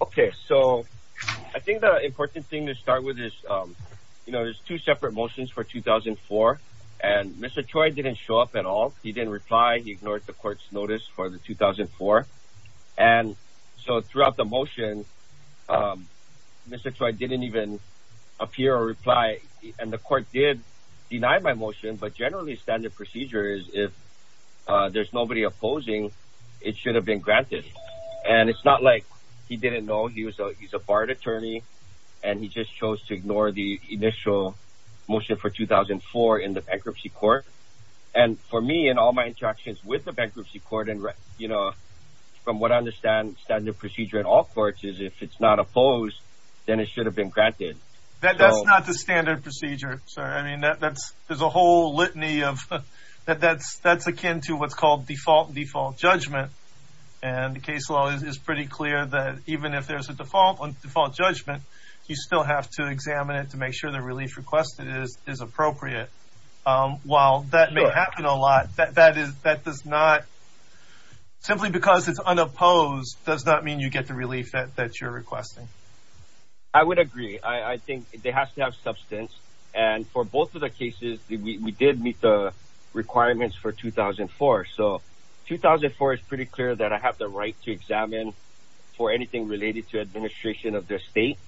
Okay, so I think the important thing to start with is, you know, there's two separate motions for 2004, and Mr. Choi didn't show up at all. He didn't reply. He ignored the court's notice for the 2004. And so throughout the motion, Mr. Choi didn't even appear or reply, and the court did deny my motion, but generally standard procedure is if there's nobody opposing, it should have been granted. And it's not like he didn't know he was a barred attorney, and he just chose to ignore the initial motion for 2004 in the bankruptcy court. And for me, in all my interactions with the bankruptcy court and, you know, from what I understand, standard procedure in all courts is if it's not opposed, then it should have been granted. That's not the standard procedure, sir. I mean, that's, there's a whole litany of, that's akin to what's called default, default judgment. And the case law is pretty clear that even if there's a default on default judgment, you still have to examine it to make sure the relief requested is appropriate. While that may happen a lot, that is, that does not, simply because it's unopposed does not mean you get the relief that you're requesting. Mr. Choi I would agree. I think they have to have substance. And for both of the cases, we did meet the requirements for 2004. So 2004 is pretty clear that I have the right to examine for anything related to administration of the state.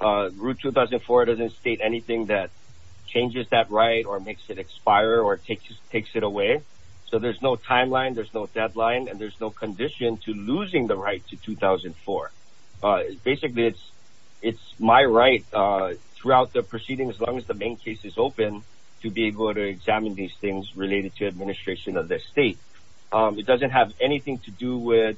Route 2004 doesn't state anything that changes that right or makes it expire or takes it away. So there's no timeline, there's no deadline, and there's no condition to losing the right to 2004. Basically it's, it's my right throughout the proceedings, as long as the main case is open, to be able to examine these things related to administration of the state. It doesn't have anything to do with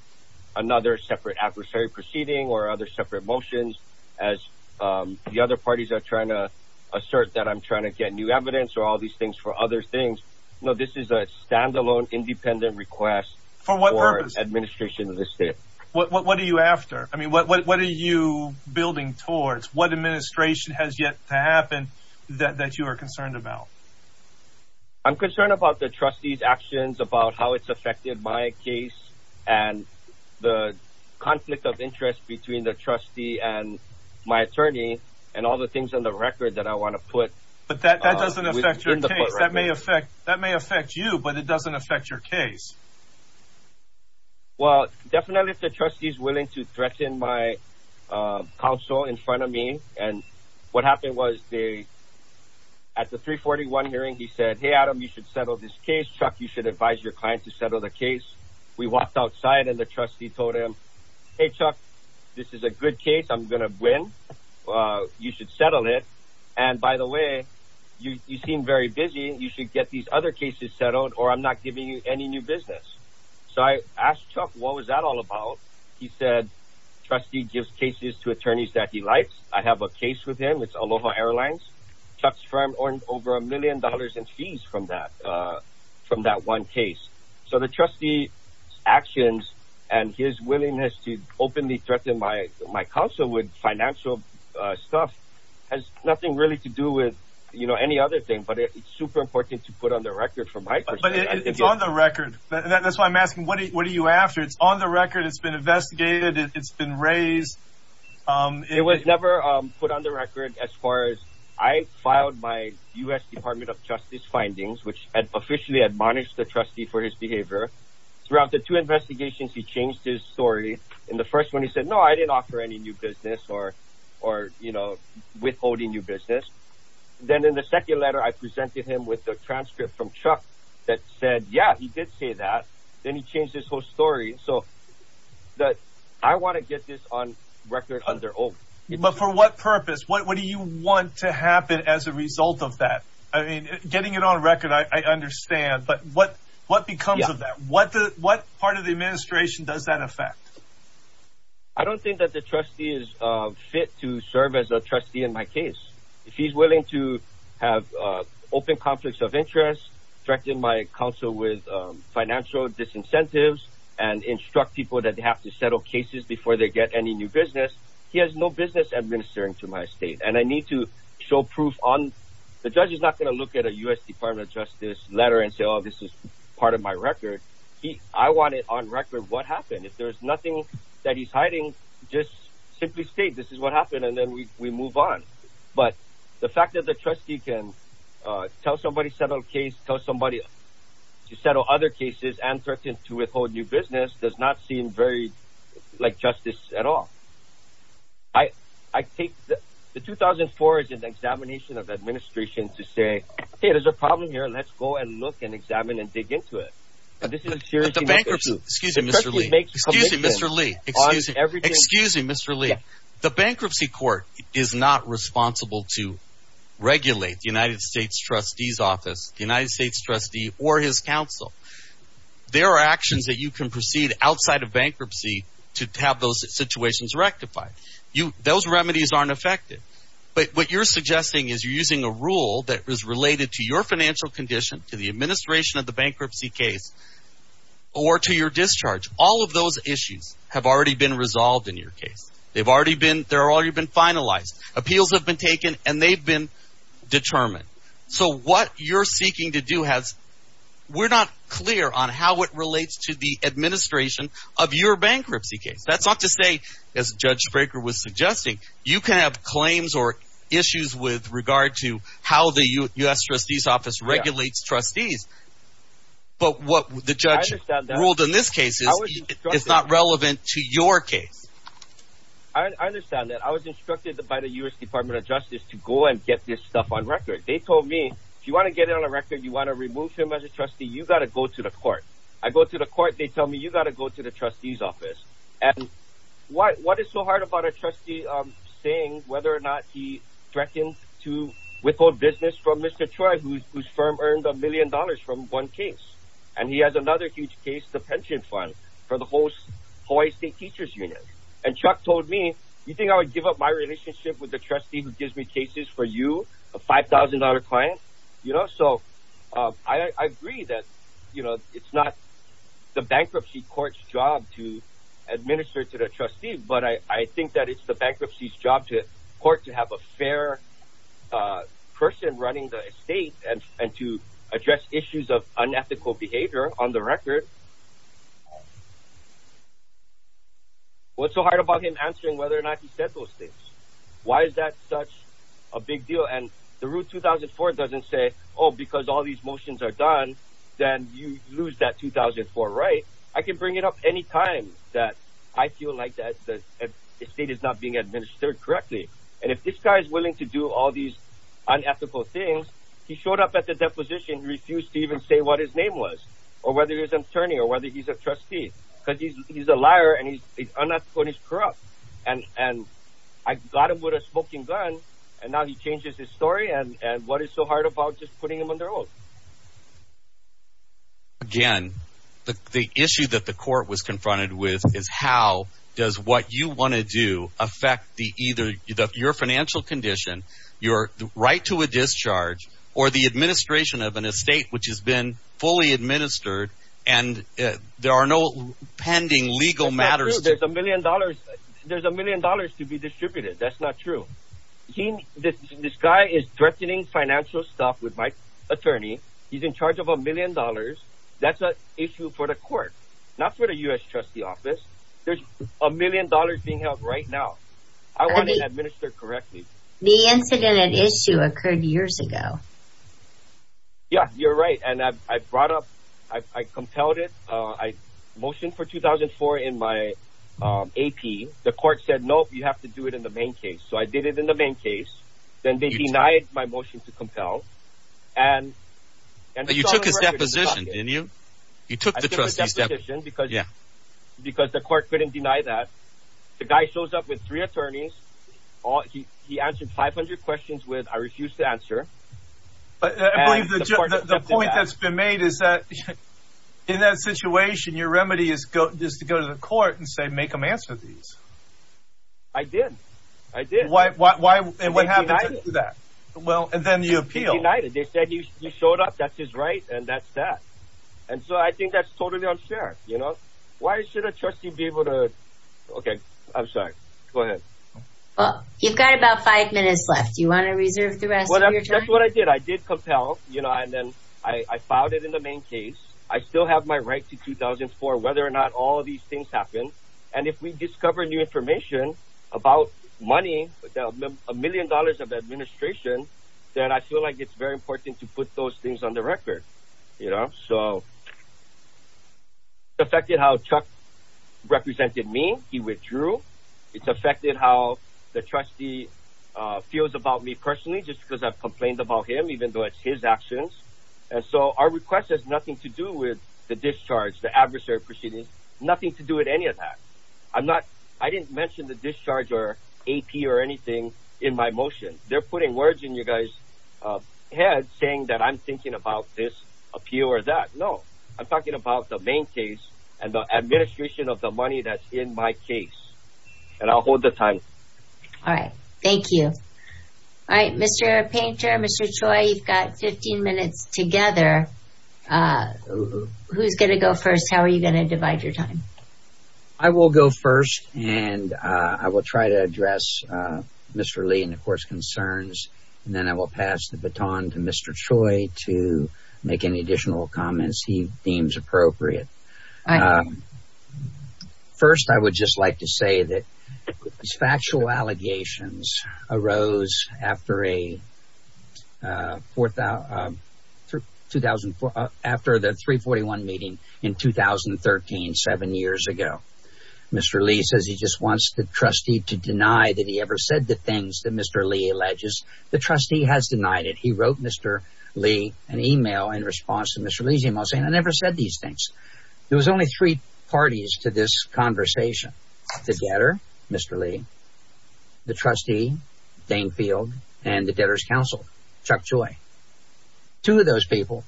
another separate adversary proceeding or other separate motions as the other parties are trying to assert that I'm trying to get new evidence or all these things for other things. No, this is a standalone independent request for administration of the state. What are you building towards? What administration has yet to happen that you are concerned about? I'm concerned about the trustee's actions, about how it's affected my case and the conflict of interest between the trustee and my attorney and all the things on the record that I want to put. But that doesn't affect your case. That may affect you, but it to threaten my counsel in front of me. And what happened was they, at the 341 hearing, he said, Hey, Adam, you should settle this case. Chuck, you should advise your client to settle the case. We walked outside and the trustee told him, Hey, Chuck, this is a good case. I'm going to win. You should settle it. And by the way, you seem very busy. You should get these other cases settled or I'm not giving you any new business. So I asked Chuck, what was that all about? He said, trustee gives cases to attorneys that he likes. I have a case with him. It's Aloha Airlines. Chuck's firm earned over a million dollars in fees from that, from that one case. So the trustee's actions and his willingness to openly threaten my counsel with financial stuff has nothing really to do with, you know, any other thing, but it's super important to put on the record from my perspective. It's on the record. That's why I'm asking, what are you after? It's on the record. It's been investigated. It's been raised. It was never put on the record as far as I filed by U.S. Department of Justice findings, which had officially admonished the trustee for his behavior throughout the two investigations. He changed his story in the first one. He said, no, I didn't offer any new business or, or, you know, withholding new business. Then in the second letter, I presented him with the transcript from Chuck that said, yeah, he did say that. Then he changed his whole story. So that I want to get this on record on their own. But for what purpose, what do you want to happen as a result of that? I mean, getting it on record, I understand, but what, what becomes of that? What, what part of the administration does that affect? I don't think that the trustee is fit to serve as a trustee if he's willing to have open conflicts of interest, directing my counsel with financial disincentives and instruct people that they have to settle cases before they get any new business. He has no business administering to my state. And I need to show proof on the judge is not going to look at a U.S. Department of Justice letter and say, oh, this is part of my record. He, I want it on record. What happened? If there's nothing that he's hiding, just simply state, this is what happened. And then we, we move on. But the fact that the trustee can tell somebody, settle a case, tell somebody to settle other cases and threaten to withhold new business does not seem very like justice at all. I, I take the, the 2004 is an examination of administration to say, hey, there's a problem here. Let's go and look and examine and dig into it. The bankruptcy, excuse me, Mr. Lee, excuse me, Mr. Lee, excuse me, Mr. Lee, the bankruptcy court is not responsible to regulate the United States trustee's office, the United States trustee or his counsel. There are actions that you can proceed outside of bankruptcy to have those situations rectified. You, those remedies aren't effective, but what you're suggesting is you're using a rule that is related to your financial condition, to the administration of the bankruptcy case or to your discharge. All of those issues have already been resolved in your case. They've already been, they're already been finalized. Appeals have been taken and they've been determined. So what you're seeking to do has, we're not clear on how it relates to the administration of your bankruptcy case. That's not to say as judge Fraker was suggesting, you can have claims or issues with regard to how the U.S. trustee's office regulates trustees. But what the judge ruled in this case is not relevant to your case. I understand that. I was instructed by the U.S. Department of Justice to go and get this stuff on record. They told me, if you want to get it on a record, you want to remove him as a trustee, you got to go to the court. I go to the court, they tell me you got to go to the trustee's office. And what is so hard about a trustee saying whether or not he to withhold business from Mr. Choi, whose firm earned a million dollars from one case. And he has another huge case, the pension fund for the Hawaii State Teachers Union. And Chuck told me, you think I would give up my relationship with the trustee who gives me cases for you, a $5,000 client, you know? So I agree that, you know, it's not the bankruptcy court's job to administer to the trustee. But I think that it's the bankruptcy's job to court to have a fair person running the estate and to address issues of unethical behavior on the record. What's so hard about him answering whether or not he said those things? Why is that such a big deal? And the Root 2004 doesn't say, oh, because all these motions are done, then you lose that 2004, right? I can bring it up any time that I feel like that the estate is not being administered correctly. And if this guy is willing to do all these unethical things, he showed up at the deposition, refused to even say what his name was, or whether he's an attorney or whether he's a trustee, because he's a liar and he's unethical and he's corrupt. And I got him with a smoking gun. And now he changes his story. And what is so hard about just putting him on the road? Again, the issue that the court was confronted with is how does what you want to do affect the either your financial condition, your right to a discharge, or the administration of an estate which has been fully administered and there are no pending legal matters. There's a million dollars. There's a million dollars to be distributed. That's not true. This guy is threatening financial stuff with my attorney. He's in charge of a million dollars. That's an issue for the court, not for the U.S. trustee office. There's a million dollars being right now. I want to administer correctly. The incident at issue occurred years ago. Yeah, you're right. And I brought up I compelled it. I motioned for 2004 in my AP. The court said, no, you have to do it in the main case. So I did it in the main case. Then they denied my motion to compel. And you took his deposition, didn't you? You took the deposition because yeah, with three attorneys, he answered 500 questions with, I refuse to answer. The point that's been made is that in that situation, your remedy is to go to the court and say, make them answer these. I did. I did. Why? And what happened to that? Well, and then you appeal. They said he showed up. That's his right. And that's that. And so I think that's totally unfair. You know, why should a trustee be able to? Okay. I'm sorry. Go ahead. Well, you've got about five minutes left. You want to reserve the rest of your time? That's what I did. I did compel, you know, and then I filed it in the main case. I still have my right to 2004, whether or not all of these things happen. And if we discover new information about money, a million dollars of administration, then I feel like it's very important to put those things on the record. You know, so affected how Chuck represented me. He withdrew. It's affected how the trustee feels about me personally, just because I've complained about him, even though it's his actions. And so our request has nothing to do with the discharge, the adversary proceedings, nothing to do with any of that. I'm not, I didn't mention the discharge or AP or anything in my motion. They're putting words in your guys head saying that I'm thinking about this appeal or that. No, I'm talking about the main case and the administration of the money that's in my case and I'll hold the time. All right. Thank you. All right. Mr. Painter, Mr. Choi, you've got 15 minutes together. Who's going to go first? How are you going to divide your time? I will go first and I will try to address Mr. Lee and of course concerns, and then I will pass the baton to Mr. Choi to make any additional comments he deems appropriate. First, I would just like to Mr. Lee says he just wants the trustee to deny that he ever said the things that Mr. Lee alleges the trustee has denied it. He wrote Mr. Lee an email in response to Mr. Lee's email saying, I never said these things. There was only three parties to this conversation. The debtor, Mr. Lee, the trustee, Dane Field, and the debtor's counsel, Chuck Choi. Two of those people,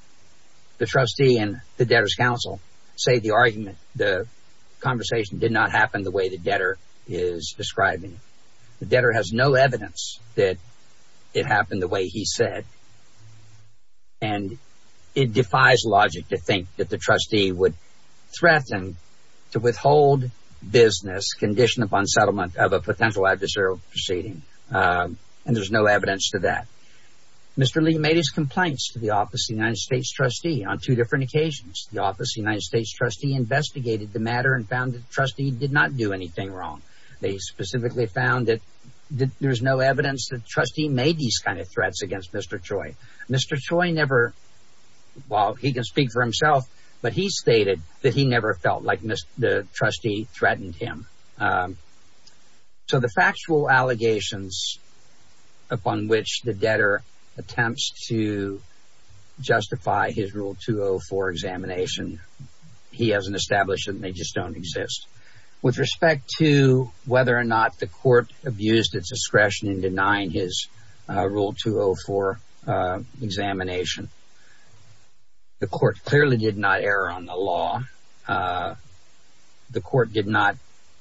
the trustee and the debtor's counsel, say the argument, the conversation did not happen the way the debtor is describing. The debtor has no evidence that it happened the way he said. And it defies logic to think that the trustee would threaten to withhold business condition upon settlement of a potential adversarial proceeding. And there's no evidence to that. Mr. Lee made his complaints to the office of the United States trustee on two different occasions. The office of the United States trustee investigated the matter and found that the trustee did not do anything wrong. They specifically found that there's no evidence that the trustee made these kind of threats against Mr. Choi. Mr. Choi never, while he can speak for himself, but he stated that he never felt like the trustee threatened him. So the factual allegations upon which the debtor attempts to justify his Rule 204 examination, he hasn't established them. They just don't exist. With respect to whether or not the court abused its discretion in denying his Rule 204 examination, the court clearly did not err on the law. The court did not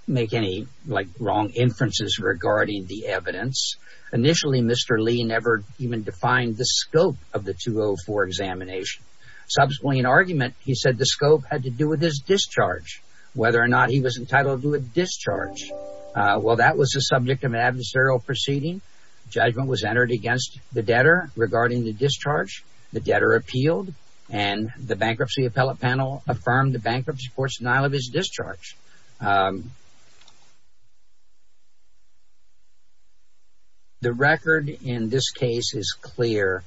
make any wrong inferences regarding the evidence. Initially, Mr. Lee never even defined the scope of the 204 examination. Subsequently, in argument, he said the scope had to do with his discharge, whether or not he was entitled to a discharge. Well, that was the subject of an adversarial proceeding. Judgment was entered against the debtor regarding the discharge. The debtor appealed, and the bankruptcy appellate panel affirmed the bankruptcy court's denial of his discharge. The record in this case is clear.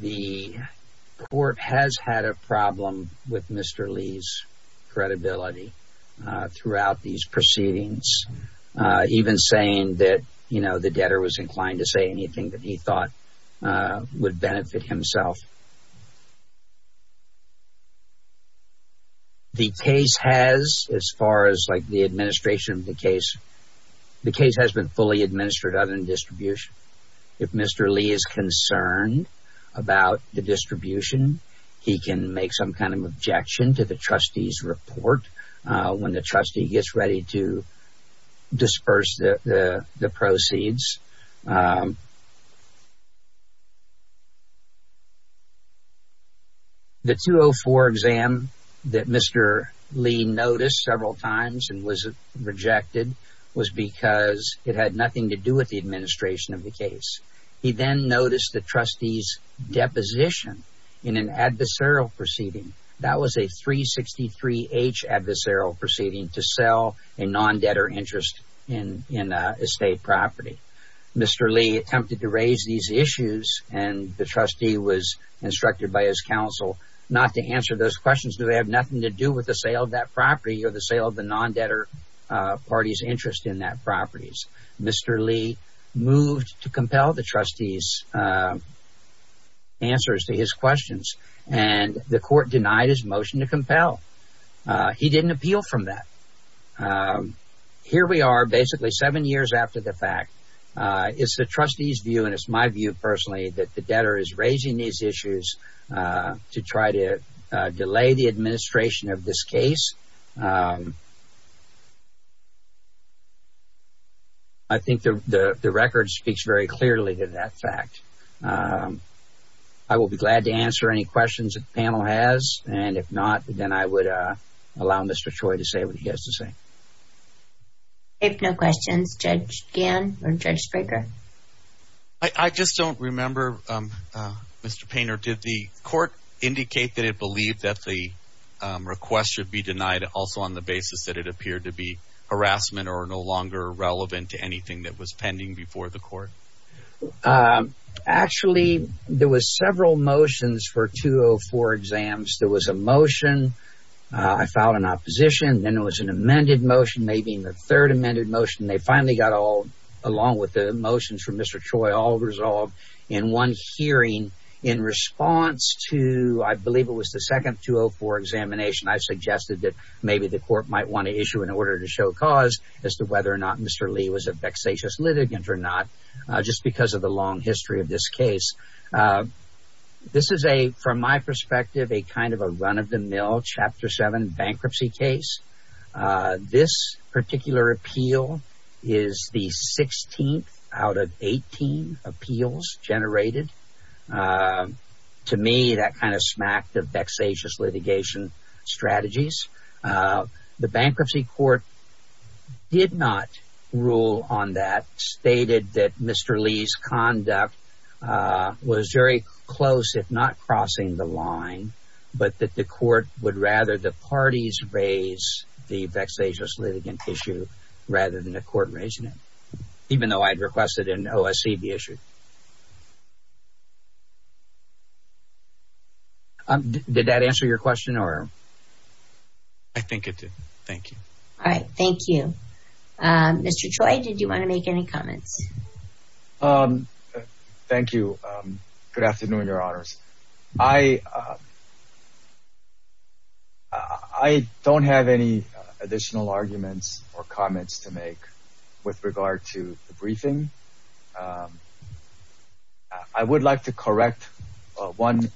The court has had a problem with Mr. Lee's credibility throughout these proceedings, even saying that, you know, the debtor was inclined to say anything that he thought would benefit himself. The case has, as far as like the administration of the case, the case has been fully administered other than distribution. If Mr. Lee is concerned about the distribution, he can make some kind of objection to the trustee's report when the trustee gets ready to disperse the proceeds. The 204 exam that Mr. Lee noticed several times and was rejected was because it had nothing to do with the administration of the case. He then noticed the trustee's deposition in an adversarial proceeding. That was a 363H adversarial proceeding to sell a non-debtor interest in estate property. Mr. Lee attempted to raise these issues, and the trustee was instructed by his counsel not to answer those questions. Do they have nothing to do with the sale of that property or the sale of the non-debtor party's interest in that property? Mr. Lee moved to compel the trustee's answers to his questions, and the court denied his motion to compel. He didn't appeal from that. Here we are, basically seven years after the fact. It's the trustee's view, and it's my view personally, that the debtor is raising these issues to try to delay the administration of this case. I think the record speaks very clearly to that fact. I will be glad to answer any questions that the panel has, and if not, then I would allow Mr. Choi to say what he has to say. If no questions, Judge Gannon or Judge Spraker. I just don't remember, Mr. Painter. Did the court indicate that it believed that the request should be denied also on the basis that it appeared to be harassment or no longer relevant to anything that was pending before the court? Actually, there were several motions for 204 exams. There was a motion. I filed an opposition. Then there was an amended motion, maybe the third amended motion. They finally got all, along with the motions from Mr. Choi, all resolved in one hearing. In response to, I believe it was the second 204 examination, I suggested that maybe the court might want to issue an order to show cause as to whether or not Mr. Lee was a vexatious litigant or not. Just because of the long history of this case. This is a, from my perspective, a kind of a run of the mill, chapter seven bankruptcy case. This particular appeal is the 16th out of 18 appeals generated. To me, that kind of smacked of vexatious litigation strategies. The bankruptcy court did not rule on that. Stated that Mr. Lee's conduct was very close, if not crossing the line, but that the court would rather the parties raise the vexatious litigant issue rather than the court raising it. Even though I'd requested in OSC the issue. Did that answer your question or? I think it did. Thank you. All right. Thank you. Mr. Choi, did you want to make any comments? Thank you. Good afternoon, your honors. I don't have any additional arguments or comments to make with regard to the briefing. I would like to correct one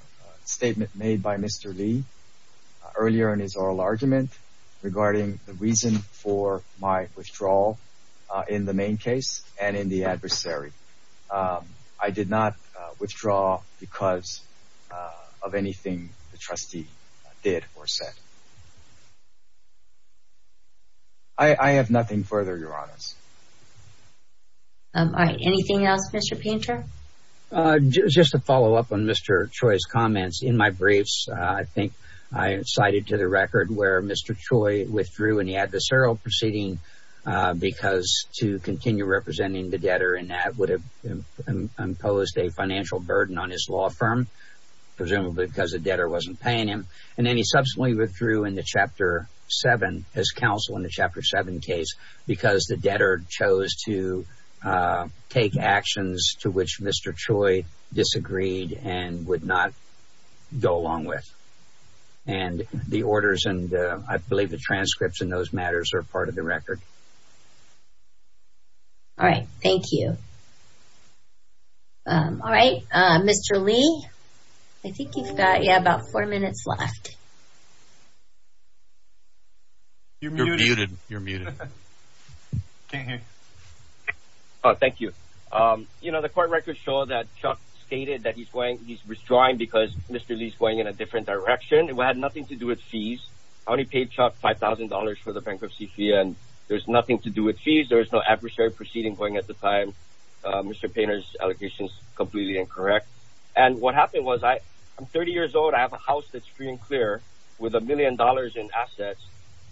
statement made by Mr. Lee earlier in his oral argument regarding the reason for my withdrawal in the main case and in the adversary. I did not withdraw because of anything the trustee did or said. I have nothing further, your honors. All right. Anything else, Mr. Painter? Just to follow up on Mr. Choi's comments in my briefs, I think I cited to the record where Mr. Choi withdrew in the adversarial proceeding because to continue representing the debtor in that would have imposed a financial burden on his law firm, presumably because the debtor wasn't paying him. And then he subsequently withdrew in the chapter seven, his counsel in the chapter seven case because the debtor chose to take actions to which Mr. Choi disagreed and would not go along with. And the orders and I believe the transcripts in those matters are part of the record. All right. Thank you. All right. Mr. Lee, I think you've got about four minutes left. You're muted. You're muted. Can't hear. Oh, thank you. You know, the court records show that Chuck stated that he's withdrawing because Mr. Lee's going in a different direction. It had nothing to do with fees. I only paid Chuck $5,000 for the bankruptcy fee and there's nothing to do with fees. There is no adversary proceeding going at the time. Mr. Painter's allegations completely incorrect. And what happened was I'm 30 years old. I have a house that's free and clear with a million dollars in assets.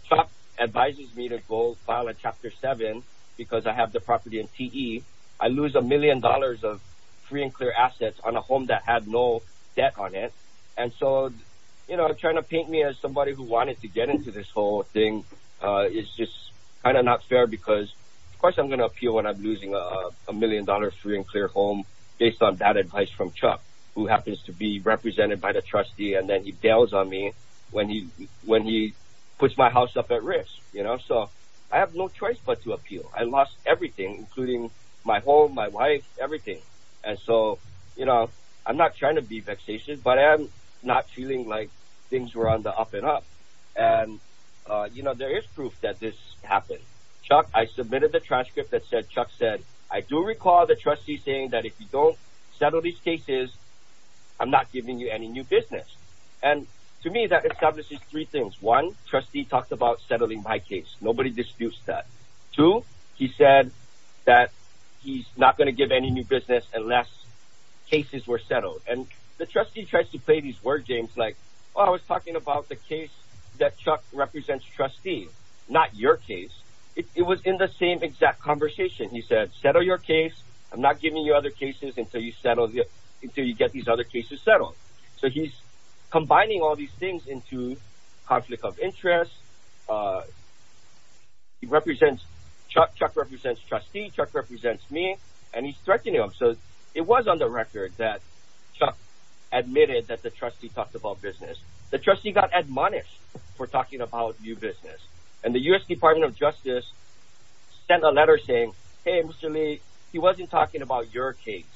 Chuck advises me to go file a chapter seven because I have the property in T.E. I lose a million dollars of free and clear assets on a home that had no debt on it. And so, you know, trying to paint me as somebody who wanted to get into this whole thing is just kind of not fair because, of course, I'm going to appeal when I'm losing a million dollars free and clear home based on that advice from Chuck, who happens to be represented by the trustee. And then he bails on me when he puts my house up at risk. You know, so I have no choice but to appeal. I lost everything, including my home, my wife, everything. And so, you know, I'm not trying to be vexatious, but I'm not feeling like things were on the up and up. And, you know, there is proof that this happened. Chuck, I submitted the transcript that said Chuck said, I do recall the trustee saying that if you don't settle these cases, I'm not giving you any new business. And to me, that establishes three things. One, trustee talked about settling my case. Nobody disputes that. Two, he said that he's not going to give any new business unless cases were settled. And the trustee tries to play these words, James, like, well, I was talking about the case that Chuck represents trustee, not your case. It was in the same exact conversation. He said, settle your case. I'm not giving you other cases until you get these other cases settled. So he's combining all these things into conflict of interest. He represents Chuck. Chuck represents trustee. Chuck represents me. And he's threatening him. So it was on the record that Chuck admitted that the trustee talked about business. The Department of Justice sent a letter saying, hey, Mr. Lee, he wasn't talking about your case,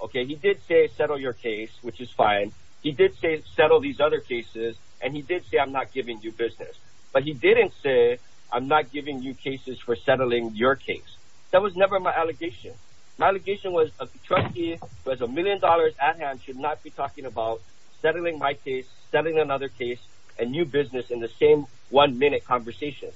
OK? He did say, settle your case, which is fine. He did say, settle these other cases. And he did say, I'm not giving you business. But he didn't say, I'm not giving you cases for settling your case. That was never my allegation. My allegation was a trustee who has a million dollars at hand should not be talking about settling my case, settling another case, a new business in the same minute conversation.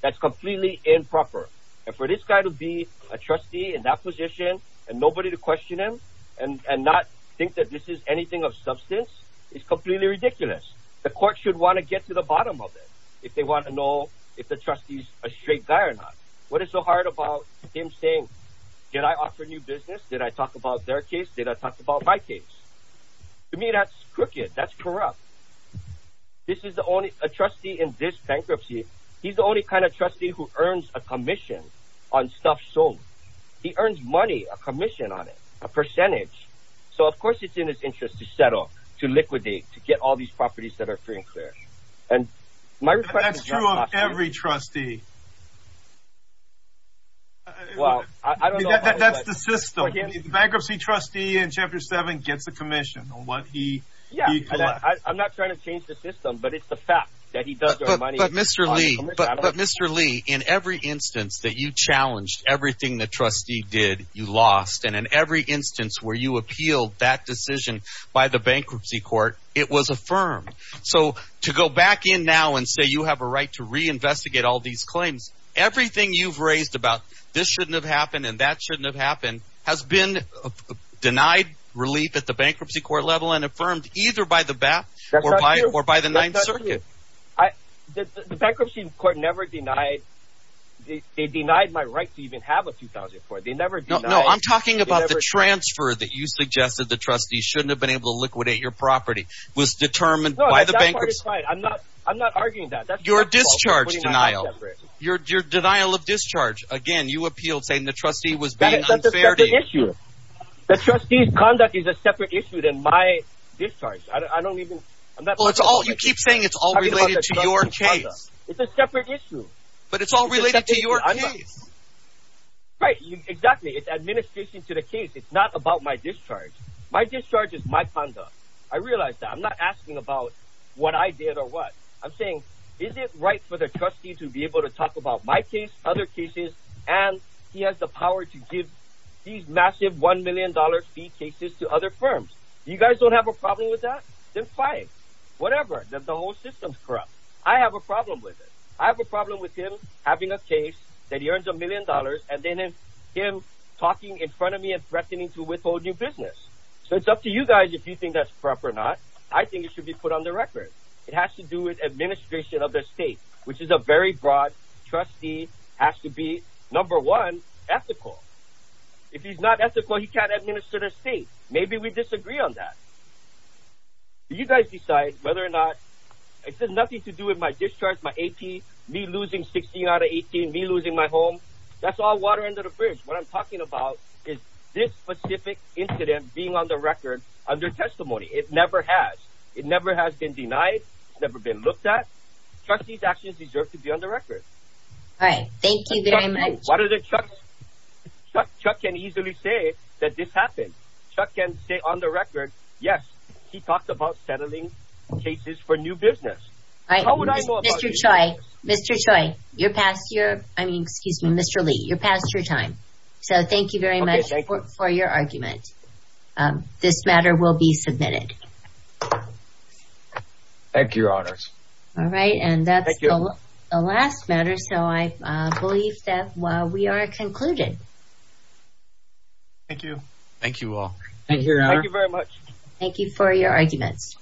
That's completely improper. And for this guy to be a trustee in that position and nobody to question him and not think that this is anything of substance is completely ridiculous. The court should want to get to the bottom of it if they want to know if the trustee is a straight guy or not. What is so hard about him saying, did I offer new business? Did I talk about their case? Did I talk about my case? To me, that's crooked. That's corrupt. This is the only a trustee in this bankruptcy. He's the only kind of trustee who earns a commission on stuff. So he earns money, a commission on it, a percentage. So of course, it's in his interest to settle, to liquidate, to get all these properties that are free and clear. And my request is true of every trustee. Well, I don't know. That's the system. The bankruptcy trustee in Chapter 7 gets a commission on what he collects. I'm not trying to change the system, but it's the fact that he does earn money. But Mr. Lee, in every instance that you challenged everything the trustee did, you lost. And in every instance where you appealed that decision by the bankruptcy court, it was affirmed. So to go back in now and say you have a right to reinvestigate all these claims, everything you've raised about this shouldn't have happened and that shouldn't have happened has been denied relief at the bankruptcy court level and affirmed either by the BAP or by the Ninth Circuit. The bankruptcy court never denied. They denied my right to even have a 2004. I'm talking about the transfer that you suggested the trustee shouldn't have been able to liquidate your property was determined by the bankruptcy. I'm not arguing that. That's your discharge denial. Your denial of discharge. Again, you appealed saying the trustee was unfair to issue. The trustee's conduct is a separate issue than my discharge. I don't even know. It's all you keep saying it's all related to your case. It's a separate issue, but it's all related to your. Right. Exactly. It's administration to the case. It's not about my discharge. My discharge is my conduct. I realized that I'm not asking about what I did or what I'm saying. Is it right for the trustee to be able to talk about my case, other cases, and he has the power to give these massive $1 million fee cases to other firms? You guys don't have a problem with that? Then fine. Whatever. The whole system's corrupt. I have a problem with it. I have a problem with him having a case that he earns a million dollars and then him talking in front of me and threatening to withhold your business. So it's up to you guys if you think that's proper or not. I think it should be put on the record. It has to do with administration of the state, which is a very broad trustee has to be number one ethical. If he's not ethical, he can't administer the state. Maybe we disagree on that. You guys decide whether or not it's nothing to do with my discharge, my AP, me losing 16 out of 18, me losing my home. That's all water under the bridge. What I'm talking about is this specific incident being on the record under testimony. It never has. It never has been denied. It's never been looked at. Trustee's actions deserve to be on the record. All right. Thank you very much. Chuck can easily say that this happened. Chuck can say on the record, yes, he talked about settling cases for new business. All right. Mr. Choi, you're past your time. So thank you very much for your argument. This matter will be submitted. Thank you, your honors. All right. And that's the last matter. So I believe that we are concluded. Thank you. Thank you all. Thank you. Thank you very much. Thank you for your arguments.